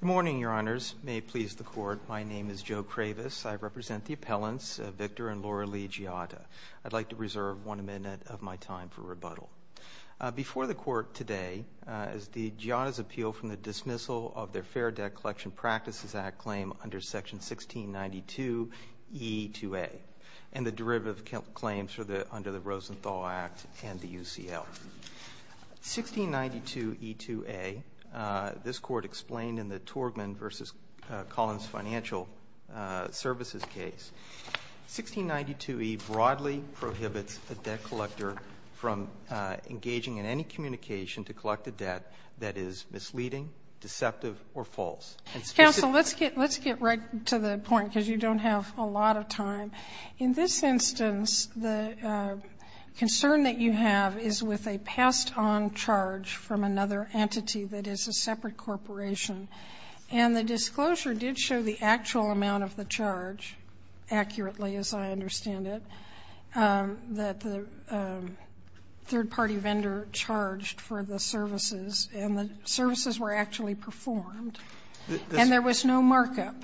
Good morning, Your Honors. May it please the Court, my name is Joe Kravis. I represent the appellants Victor and Laura Lee Giotta. I'd like to reserve one minute of my time for rebuttal. Before the Court today is the Giotta's appeal from the dismissal of their Fair Debt Collection Practices Act claim under section 1692E2A and the derivative claims under the Torgman v. Collins Financial Services case. 1692E broadly prohibits a debt collector from engaging in any communication to collect a debt that is misleading, deceptive or false. Counsel, let's get right to the point because you don't have a lot of time. In this instance, the concern that you have is with a passed on charge from another entity that is a separate corporation. And the disclosure did show the actual amount of the charge accurately as I understand it, that the third party vendor charged for the services and the services were actually performed and there was no markup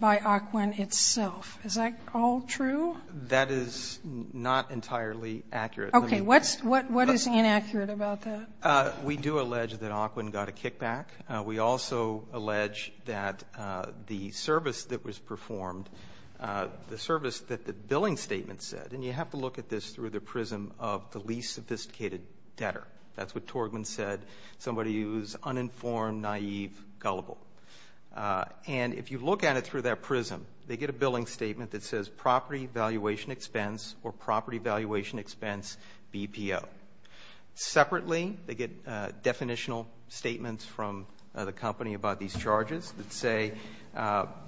by Ocwen itself. Is that all true? That is not entirely accurate. Okay. What is inaccurate about that? We do allege that Ocwen got a kickback. We also allege that the service that was performed, the service that the billing statement said, and you have to look at this through the prism of the least sophisticated debtor. That's what Torgman said, somebody who's uninformed, naive, gullible. And if you look at it through that prism, they get a billing statement that property valuation expense or property valuation expense BPO. Separately, they get definitional statements from the company about these charges that say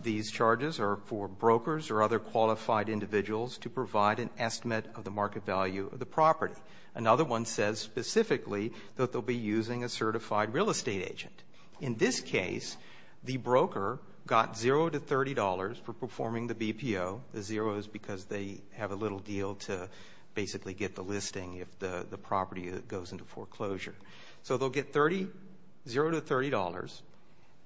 these charges are for brokers or other qualified individuals to provide an estimate of the market value of the property. Another one says specifically that they'll be using a certified real estate agent. In this case, the broker got $0 to $30 for performing the BPO. The zero is because they have a little deal to basically get the listing if the property goes into foreclosure. So they'll get $0 to $30.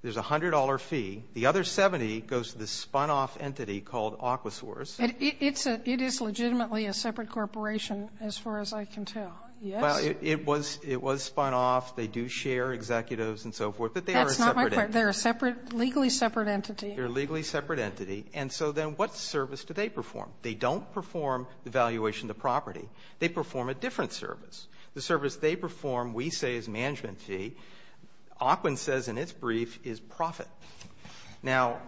There's a $100 fee. The other $70 goes to this spun-off entity called Aquasource. It is legitimately a separate corporation as far as I can tell. Yes? It was spun-off. They do share executives and so forth, but they are a separate entity. That's not my point. They're a separate, legally separate entity. They're a legally separate entity. And so then what service do they perform? They don't perform the valuation of the property. They perform a different service. The service they perform, we say, is management fee. Aquan says in its brief is profit. Now,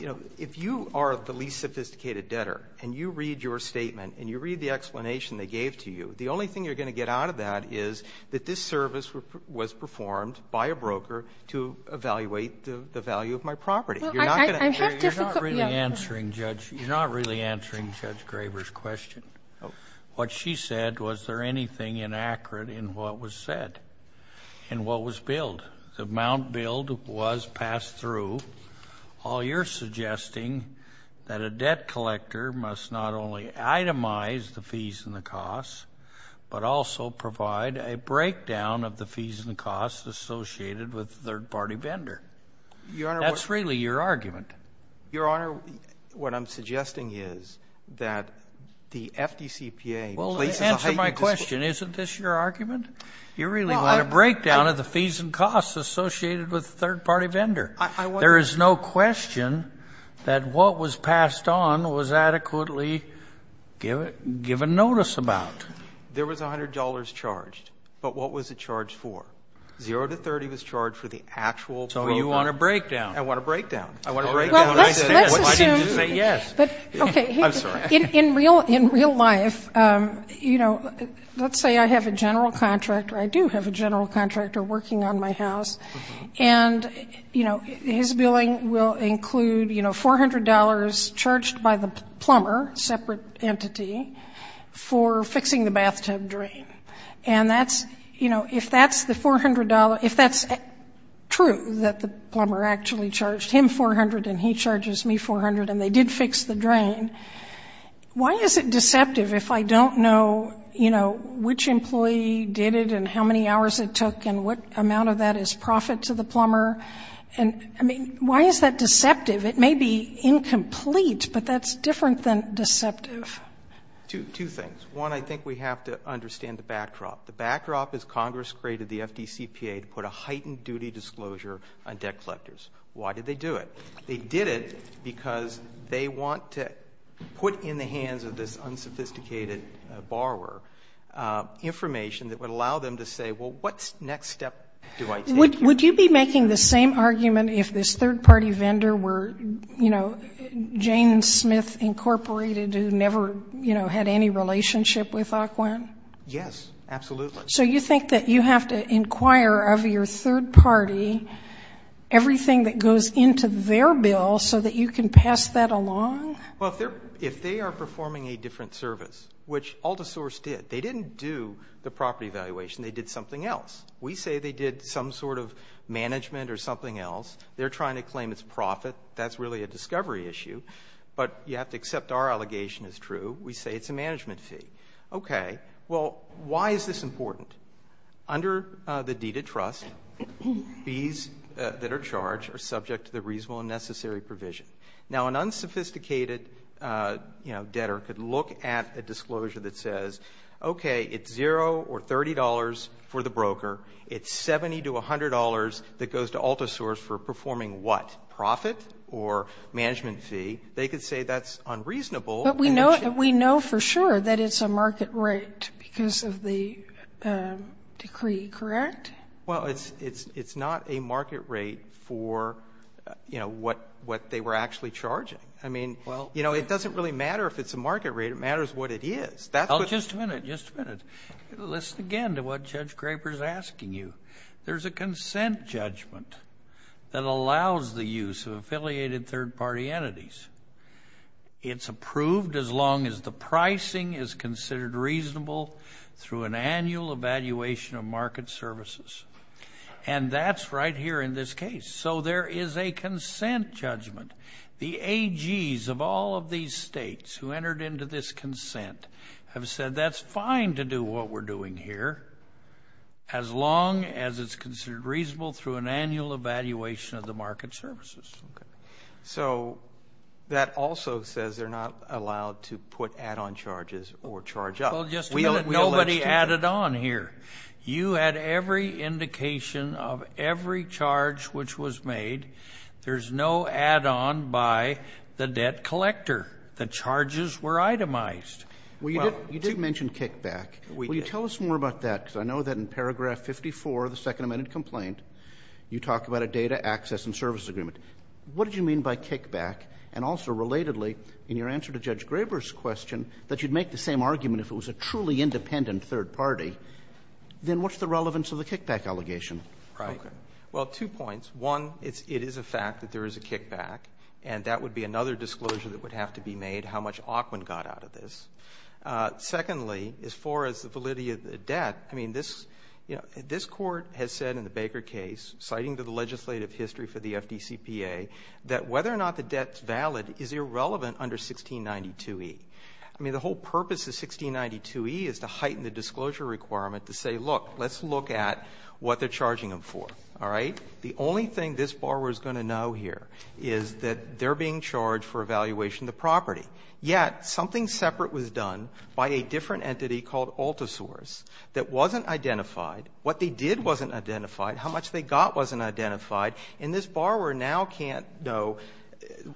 you know, if you are the least sophisticated debtor and you read your statement and you read the explanation they gave to you, the only thing you're going to get out of that is that this service was performed by a broker to evaluate the value of my property. You're not going to... I have difficulty... You're not really answering Judge Graber's question. What she said, was there anything inaccurate in what was said, in what was billed? The amount billed was passed through. Well, you're suggesting that a debt collector must not only itemize the fees and the costs, but also provide a breakdown of the fees and the costs associated with the third-party vendor. That's really your argument. Your Honor, what I'm suggesting is that the FDCPA places a heightened... Well, answer my question. Isn't this your argument? You really want a breakdown of the There is no question that what was passed on was adequately given notice about. There was $100 charged, but what was it charged for? Zero to 30 was charged for the actual... So you want a breakdown. I want a breakdown. I want a breakdown. Well, let's assume... I didn't do it. Yes. I'm sorry. In real life, you know, let's say I have a general contractor. I do have a general contractor working on my house. And, you know, his billing will include, you know, $400 charged by the plumber, separate entity, for fixing the bathtub drain. And that's, you know, if that's the $400, if that's true that the plumber actually charged him $400 and he charges me $400 and they did fix the drain, why is it deceptive if I don't know, you know, which employee did it and how many hours it took and what amount of that is profit to the plumber? And, I mean, why is that deceptive? It may be incomplete, but that's different than deceptive. Two things. One, I think we have to understand the backdrop. The backdrop is Congress created the FDCPA to put a heightened duty disclosure on debt collectors. Why did they do it? They did it because they want to put in the hands of this unsophisticated borrower information that would allow them to say, well, what next step do I take? Would you be making the same argument if this third-party vendor were, you know, Jane Smith Incorporated who never, you know, had any relationship with Ocwen? Yes, absolutely. So you think that you have to inquire of your third party everything that goes into their bill so that you can pass that along? Well, if they are performing a different service, which AltaSource did, they didn't do the property valuation. They did something else. We say they did some sort of management or something else. They're trying to claim it's profit. That's really a discovery issue. But you have to accept our allegation is true. We say it's a management fee. Okay. Well, why is this important? Under the deed of trust, fees that are charged are subject to the reasonable and necessary provision. Now, an unsophisticated debtor could look at a disclosure that says, okay, it's $0 or $30 for the broker. It's $70 to $100 that goes to AltaSource for performing what? Profit or management fee? They could say that's unreasonable. But we know for sure that it's a market rate because of the decree, correct? Well, it's not a market rate for what they were actually charging. It doesn't really matter if it's a market rate. It matters what it is. Just a minute. Just a minute. Listen again to what Judge Graper is asking you. There's a consent judgment that allows the use of affiliated third party entities. It's approved as long as the pricing is considered reasonable through an annual evaluation of market services. And that's right here in this case. So there is a consent judgment. The AGs of all of these states who entered into this consent have said that's fine to do what we're doing here as long as it's considered reasonable through an annual evaluation of the market services. So that also says they're not allowed to put add-on charges or charge up. Well, just a minute. Nobody added on here. You had every indication of every charge which was made. There's no add-on by the debt collector. The charges were itemized. Well, you did mention kickback. Will you tell us more about that? Because I know that in paragraph 54 of the Second Amendment complaint, you talk about a data access and service agreement. What did you mean by kickback? And also, relatedly, in your answer to Judge Graber's question, that you'd make the same argument if it was a truly independent third party. Then what's the relevance of the kickback allegation? Right. Well, two points. One, it is a fact that there is a kickback. And that would be another disclosure that would have to be made, how much Aukman got out of this. Secondly, as far as the validity of the debt, I mean, this Court has said in the Baker case, citing to the legislative history for the FDCPA, that whether or not the debt is valid is irrelevant under 1692e. I mean, the whole purpose of 1692e is to heighten the disclosure requirement to say, look, let's look at what they're charging them for. All right? The only thing this borrower is going to know here is that they're being charged for evaluation of the property. Yet something separate was done by a different entity called Altasaurus that wasn't identified. What they did wasn't identified. How much they got wasn't identified. And this borrower now can't know,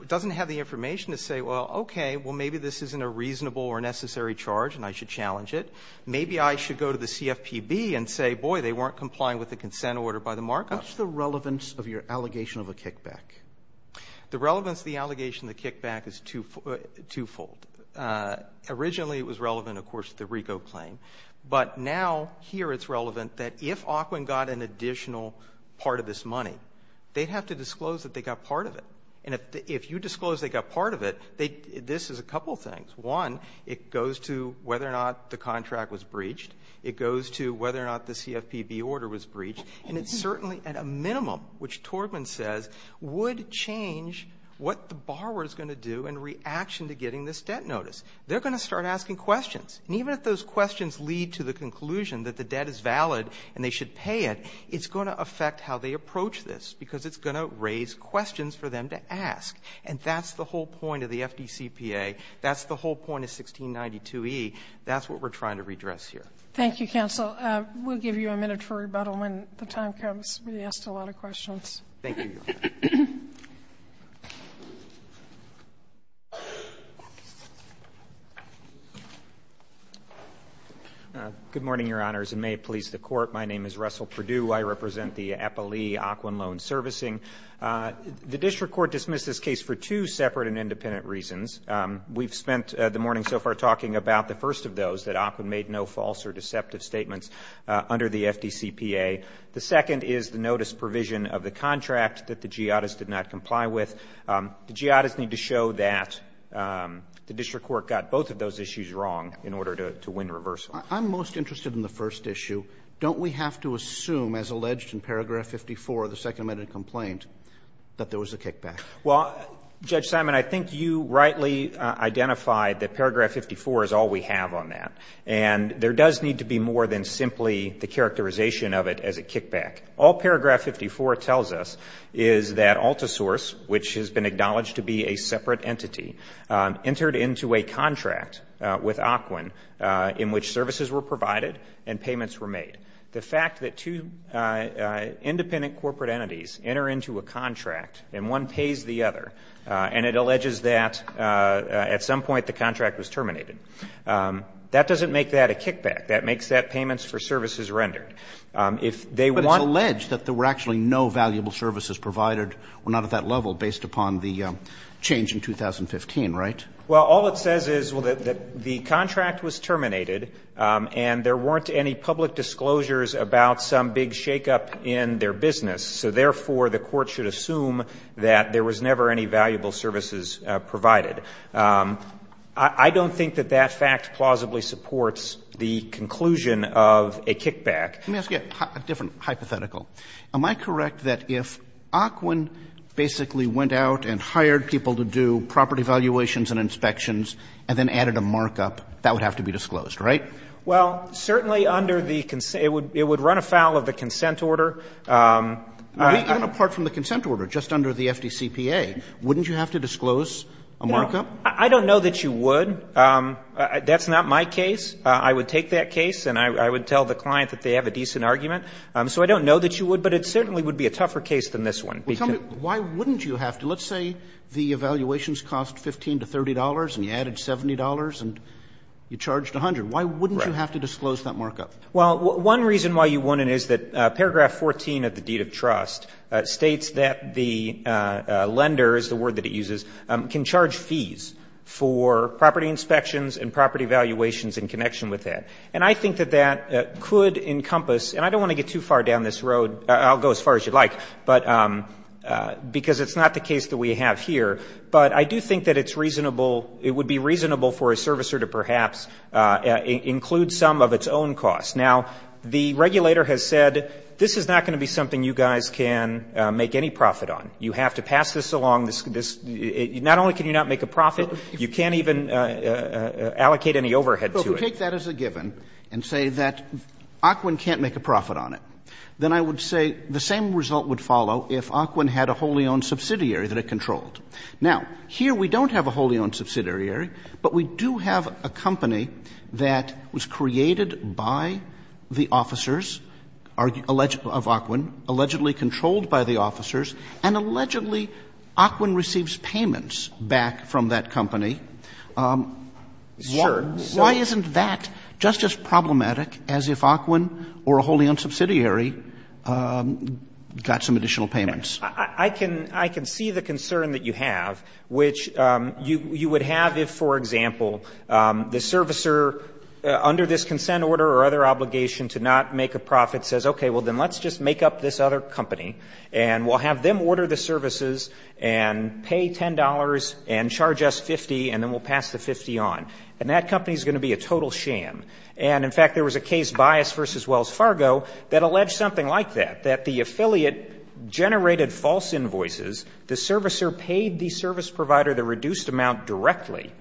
doesn't have the information to say, well, okay, well, maybe this isn't a reasonable or necessary charge and I should challenge it. Maybe I should go to the CFPB and say, boy, they weren't complying with the consent order by the markup. What's the relevance of your allegation of a kickback? The relevance of the allegation of the kickback is twofold. Originally, it was relevant, of course, to the RICO claim. But now here it's relevant that if Aukwin got an additional part of this money, they'd have to disclose that they got part of it. And if you disclose they got part of it, this is a couple things. One, it goes to whether or not the contract was breached. It goes to whether or not the CFPB order was breached. And it's certainly at a minimum, which Torgman says, would change what the borrower is going to do in reaction to getting this debt notice. They're going to start asking questions. And even if those questions lead to the conclusion that the debt is valid and they should pay it, it's going to affect how they approach this because it's going to raise questions for them to ask. And that's the whole point of the FDCPA. That's the whole point of 1692E. That's what we're trying to redress here. Thank you, counsel. We'll give you a minute for rebuttal when the time comes. We asked a lot of questions. Thank you, Your Honor. Good morning, Your Honors, and may it please the Court. My name is Russell Perdue. I represent the Eppley-Aukwin Loan Servicing. The district court dismissed this case for two separate and independent reasons. We've spent the morning so far talking about the first of those, that Aukwin made no false or deceptive statements under the FDCPA. The second is the notice provision of the contract that the jihadists did not comply with. The jihadists need to show that the district court got both of those issues wrong in order to win reversal. I'm most interested in the first issue. Don't we have to assume, as alleged in paragraph 54 of the Second Amendment complaint, that there was a kickback? Well, Judge Simon, I think you rightly identified that paragraph 54 is all we have on that. And there does need to be more than simply the characterization of it as a kickback. All paragraph 54 tells us is that AltaSource, which has been acknowledged to be a separate entity, entered into a contract with Aukwin in which services were terminated. And it alleges that at some point the contract was terminated. That doesn't make that a kickback. That makes that payments for services rendered. But it's alleged that there were actually no valuable services provided or not at that level based upon the change in 2015, right? Well, all it says is that the contract was terminated and there weren't any public disclosures about some big shakeup in their business. So therefore, the court should assume that there was never any valuable services provided. I don't think that that fact plausibly supports the conclusion of a kickback. Let me ask you a different hypothetical. Am I correct that if Aukwin basically went out and hired people to do property valuations and inspections and then added a markup, that would have to be disclosed, right? Well, certainly under the concern, it would run afoul of the consent order. Even apart from the consent order, just under the FDCPA, wouldn't you have to disclose a markup? No. I don't know that you would. That's not my case. I would take that case and I would tell the client that they have a decent argument. So I don't know that you would. But it certainly would be a tougher case than this one. Well, tell me, why wouldn't you have to? Let's say the evaluations cost $15 to $30 and you added $70 and you charged $100. Why wouldn't you have to disclose that markup? Well, one reason why you wouldn't is that paragraph 14 of the deed of trust states that the lender, is the word that it uses, can charge fees for property inspections and property valuations in connection with that. And I think that that could encompass, and I don't want to get too far down this road. I'll go as far as you'd like, but because it's not the case that we have here. But I do think that it's reasonable, it would be reasonable for a servicer to perhaps include some of its own costs. Now, the regulator has said, this is not going to be something you guys can make any profit on. You have to pass this along. Not only can you not make a profit, you can't even allocate any overhead to it. Well, if you take that as a given and say that AQUIN can't make a profit on it, then I would say the same result would follow if AQUIN had a wholly owned subsidiary that it controlled. Now, here we don't have a wholly owned subsidiary, but we do have a company that was created by the officers of AQUIN, allegedly controlled by the officers, and allegedly AQUIN receives payments back from that company. Why isn't that just as problematic as if AQUIN or a wholly owned subsidiary got some additional payments? I can see the concern that you have, which you would have if, for example, the servicer under this consent order or other obligation to not make a profit says, okay, well, then let's just make up this other company, and we'll have them order the services and pay $10 and charge us 50, and then we'll pass the 50 on. And that company is going to be a total sham. And, in fact, there was a case, Bias v. Wells Fargo, that alleged something like that, that the affiliate generated false invoices. The servicer paid the service provider the reduced amount directly,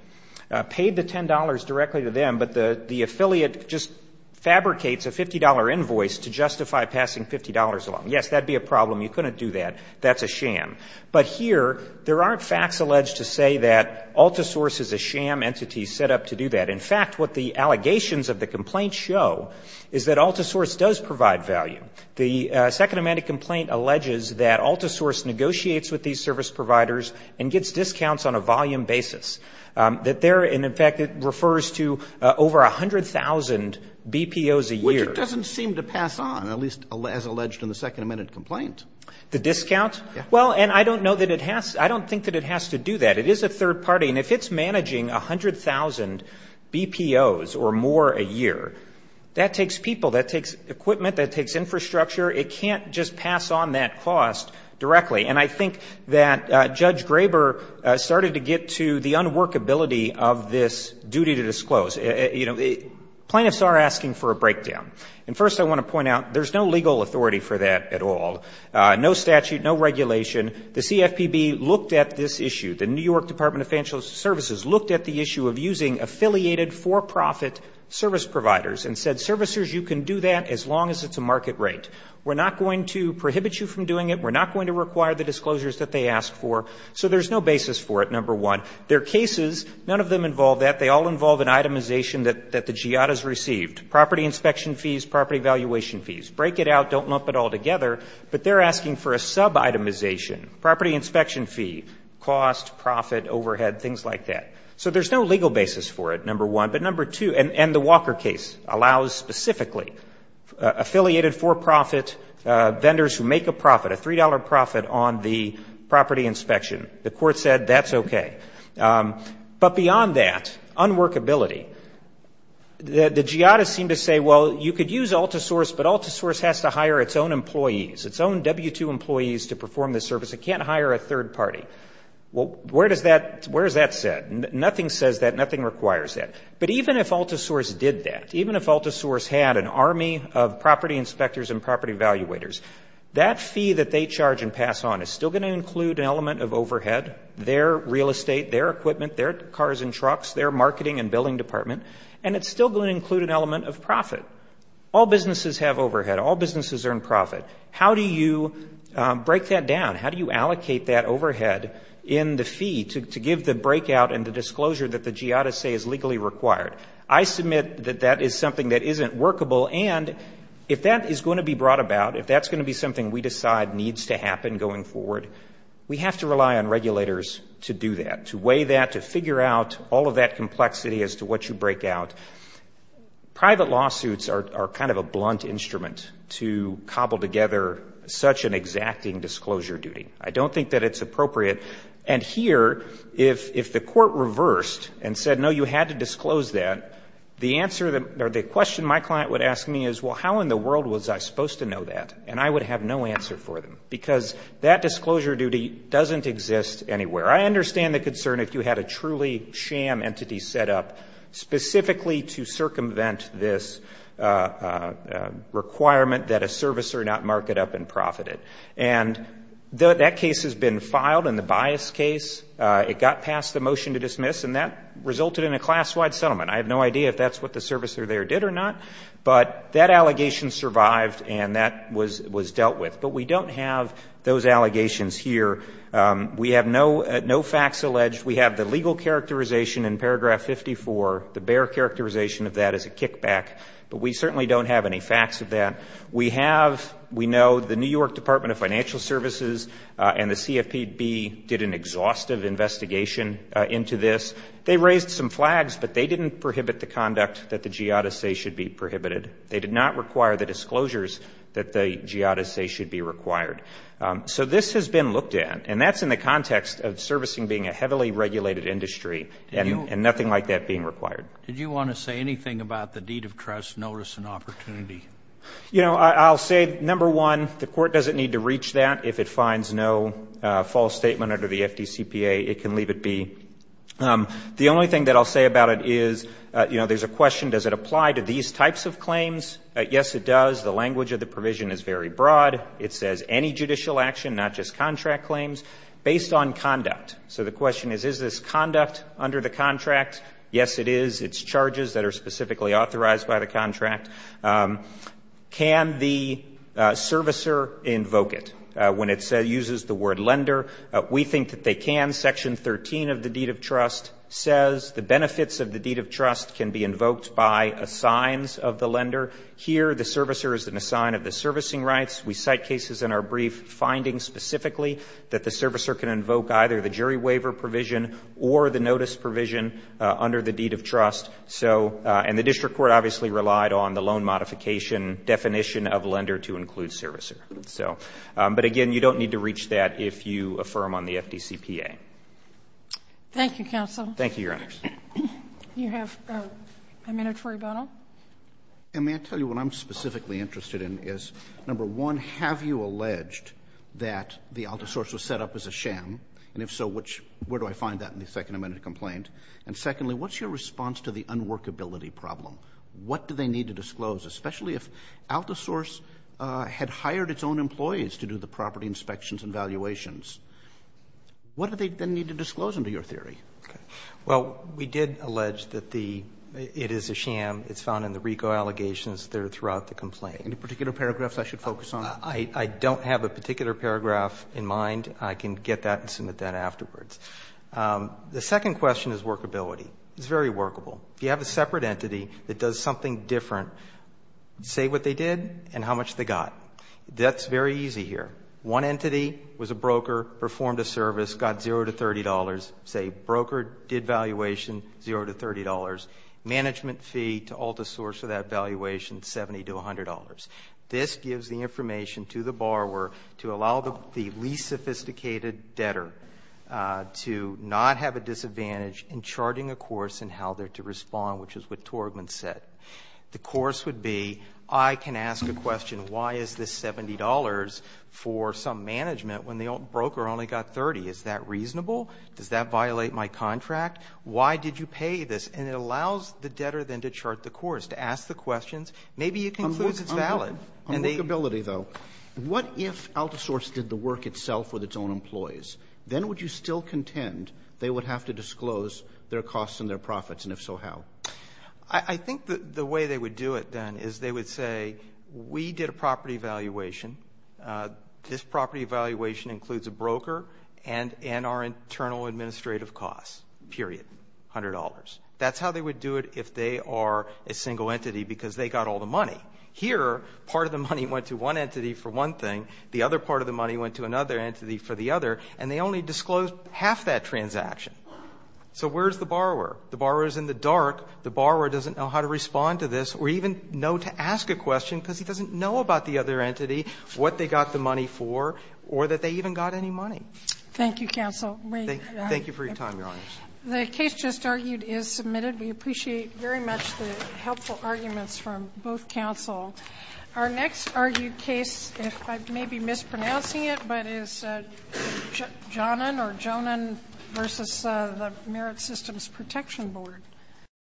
paid the $10 directly to them, but the affiliate just fabricates a $50 invoice to justify passing $50 along. Yes, that would be a problem. You couldn't do that. That's a sham. But here, there aren't facts alleged to say that AltaSource is a sham entity set up to do that. In fact, what the allegations of the complaint show is that AltaSource does provide value. The Second Amendment complaint alleges that AltaSource negotiates with these service providers and gets discounts on a volume basis. And, in fact, it refers to over 100,000 BPOs a year. Which it doesn't seem to pass on, at least as alleged in the Second Amendment complaint. The discount? Yes. Well, and I don't think that it has to do that. It is a third party. And if it's managing 100,000 BPOs or more a year, that takes people. That takes equipment. That takes infrastructure. It can't just pass on that cost directly. And I think that Judge Graber started to get to the unworkability of this duty to disclose. You know, plaintiffs are asking for a breakdown. And first I want to point out, there's no legal authority for that at all. No statute. No regulation. The CFPB looked at this issue. The New York Department of Financial Services looked at the issue of using affiliated for-profit service providers and said, servicers, you can do that as long as it's a market rate. We're not going to prohibit you from doing it. We're not going to require the disclosures that they asked for. So there's no basis for it, number one. There are cases, none of them involve that. They all involve an itemization that the GIADA has received. Property inspection fees, property valuation fees. Break it out. Don't lump it all together. But they're asking for a sub-itemization. Property inspection fee, cost, profit, overhead, things like that. So there's no legal basis for it, number one. But number two, and the Walker case allows specifically affiliated for-profit vendors who make a profit, a $3 profit on the property inspection. The court said that's okay. But beyond that, unworkability. The GIADA seemed to say, well, you could use AltaSource, but AltaSource has to hire a third party. Well, where is that set? Nothing says that. Nothing requires that. But even if AltaSource did that, even if AltaSource had an army of property inspectors and property evaluators, that fee that they charge and pass on is still going to include an element of overhead, their real estate, their equipment, their cars and trucks, their marketing and billing department, and it's still going to include an element of profit. All businesses have overhead. All businesses earn profit. How do you break that down? How do you allocate that overhead in the fee to give the breakout and the disclosure that the GIADA say is legally required? I submit that that is something that isn't workable. And if that is going to be brought about, if that's going to be something we decide needs to happen going forward, we have to rely on regulators to do that, to weigh that, to figure out all of that complexity as to what you break out. Private lawsuits are kind of a blunt instrument to cobble together such an exacting disclosure duty. I don't think that it's appropriate. And here, if the court reversed and said, no, you had to disclose that, the answer or the question my client would ask me is, well, how in the world was I supposed to know that? And I would have no answer for them because that disclosure duty doesn't exist anywhere. I understand the concern if you had a truly sham entity set up specifically to circumvent this requirement that a servicer not mark it up and profit it. And that case has been filed in the bias case. It got past the motion to dismiss. And that resulted in a class-wide settlement. I have no idea if that's what the servicer there did or not. But that allegation survived and that was dealt with. But we don't have those allegations here. We have no facts alleged. We have the legal characterization in paragraph 54. The bare characterization of that is a kickback. But we certainly don't have any facts of that. We have, we know, the New York Department of Financial Services and the CFPB did an exhaustive investigation into this. They raised some flags, but they didn't prohibit the conduct that the giada say should be prohibited. They did not require the disclosures that the giada say should be required. So this has been looked at. And that's in the context of servicing being a heavily regulated industry and nothing like that being required. Did you want to say anything about the deed of trust notice and opportunity? You know, I'll say, number one, the court doesn't need to reach that. If it finds no false statement under the FDCPA, it can leave it be. The only thing that I'll say about it is, you know, there's a question, does it apply to these types of claims? Yes, it does. The language of the provision is very broad. It says any judicial action, not just contract claims, based on conduct. So the question is, is this conduct under the contract? Yes, it is. It's charges that are specifically authorized by the contract. Can the servicer invoke it when it uses the word lender? We think that they can. Section 13 of the deed of trust says the benefits of the deed of trust can be invoked by assigns of the lender. Here the servicer is an assign of the servicing rights. We cite cases in our brief finding specifically that the servicer can invoke either the jury waiver provision or the notice provision under the deed of trust. And the district court obviously relied on the loan modification definition of lender to include servicer. But, again, you don't need to reach that if you affirm on the FDCPA. Thank you, counsel. Thank you, Your Honors. You have a minute for rebuttal. May I tell you what I'm specifically interested in is, number one, have you alleged that the AltaSource was set up as a sham? And if so, where do I find that in the second amendment complaint? And, secondly, what's your response to the unworkability problem? What do they need to disclose, especially if AltaSource had hired its own employees to do the property inspections and valuations? What do they then need to disclose under your theory? Well, we did allege that it is a sham. It's found in the RICO allegations throughout the complaint. Any particular paragraphs I should focus on? I don't have a particular paragraph in mind. I can get that and submit that afterwards. The second question is workability. It's very workable. If you have a separate entity that does something different, say what they did and how much they got. That's very easy here. One entity was a broker, performed a service, got $0 to $30. Say broker did valuation, $0 to $30. Management fee to AltaSource for that valuation, $70 to $100. This gives the information to the borrower to allow the least sophisticated debtor to not have a disadvantage in charting a course and how they're to respond, which is what Torgman said. The course would be I can ask a question, why is this $70 for some management when the broker only got $30? Is that reasonable? Does that violate my contract? Why did you pay this? And it allows the debtor then to chart the course, to ask the questions. Maybe it concludes it's valid. On workability, though, what if AltaSource did the work itself with its own employees? Then would you still contend they would have to disclose their costs and their profits, and if so, how? I think the way they would do it then is they would say we did a property valuation. This property valuation includes a broker and our internal administrative costs, period, $100. That's how they would do it if they are a single entity because they got all the money. Here, part of the money went to one entity for one thing, the other part of the money went to another entity for the other, and they only disclosed half that transaction. So where is the borrower? The borrower is in the dark. The borrower doesn't know how to respond to this or even know to ask a question because he doesn't know about the other entity, what they got the money for, or that they even got any money. Thank you, counsel. Thank you for your time, Your Honors. The case just argued is submitted. We appreciate very much the helpful arguments from both counsel. Our next argued case, if I may be mispronouncing it, but is Jonan versus the Merit Systems Protection Board.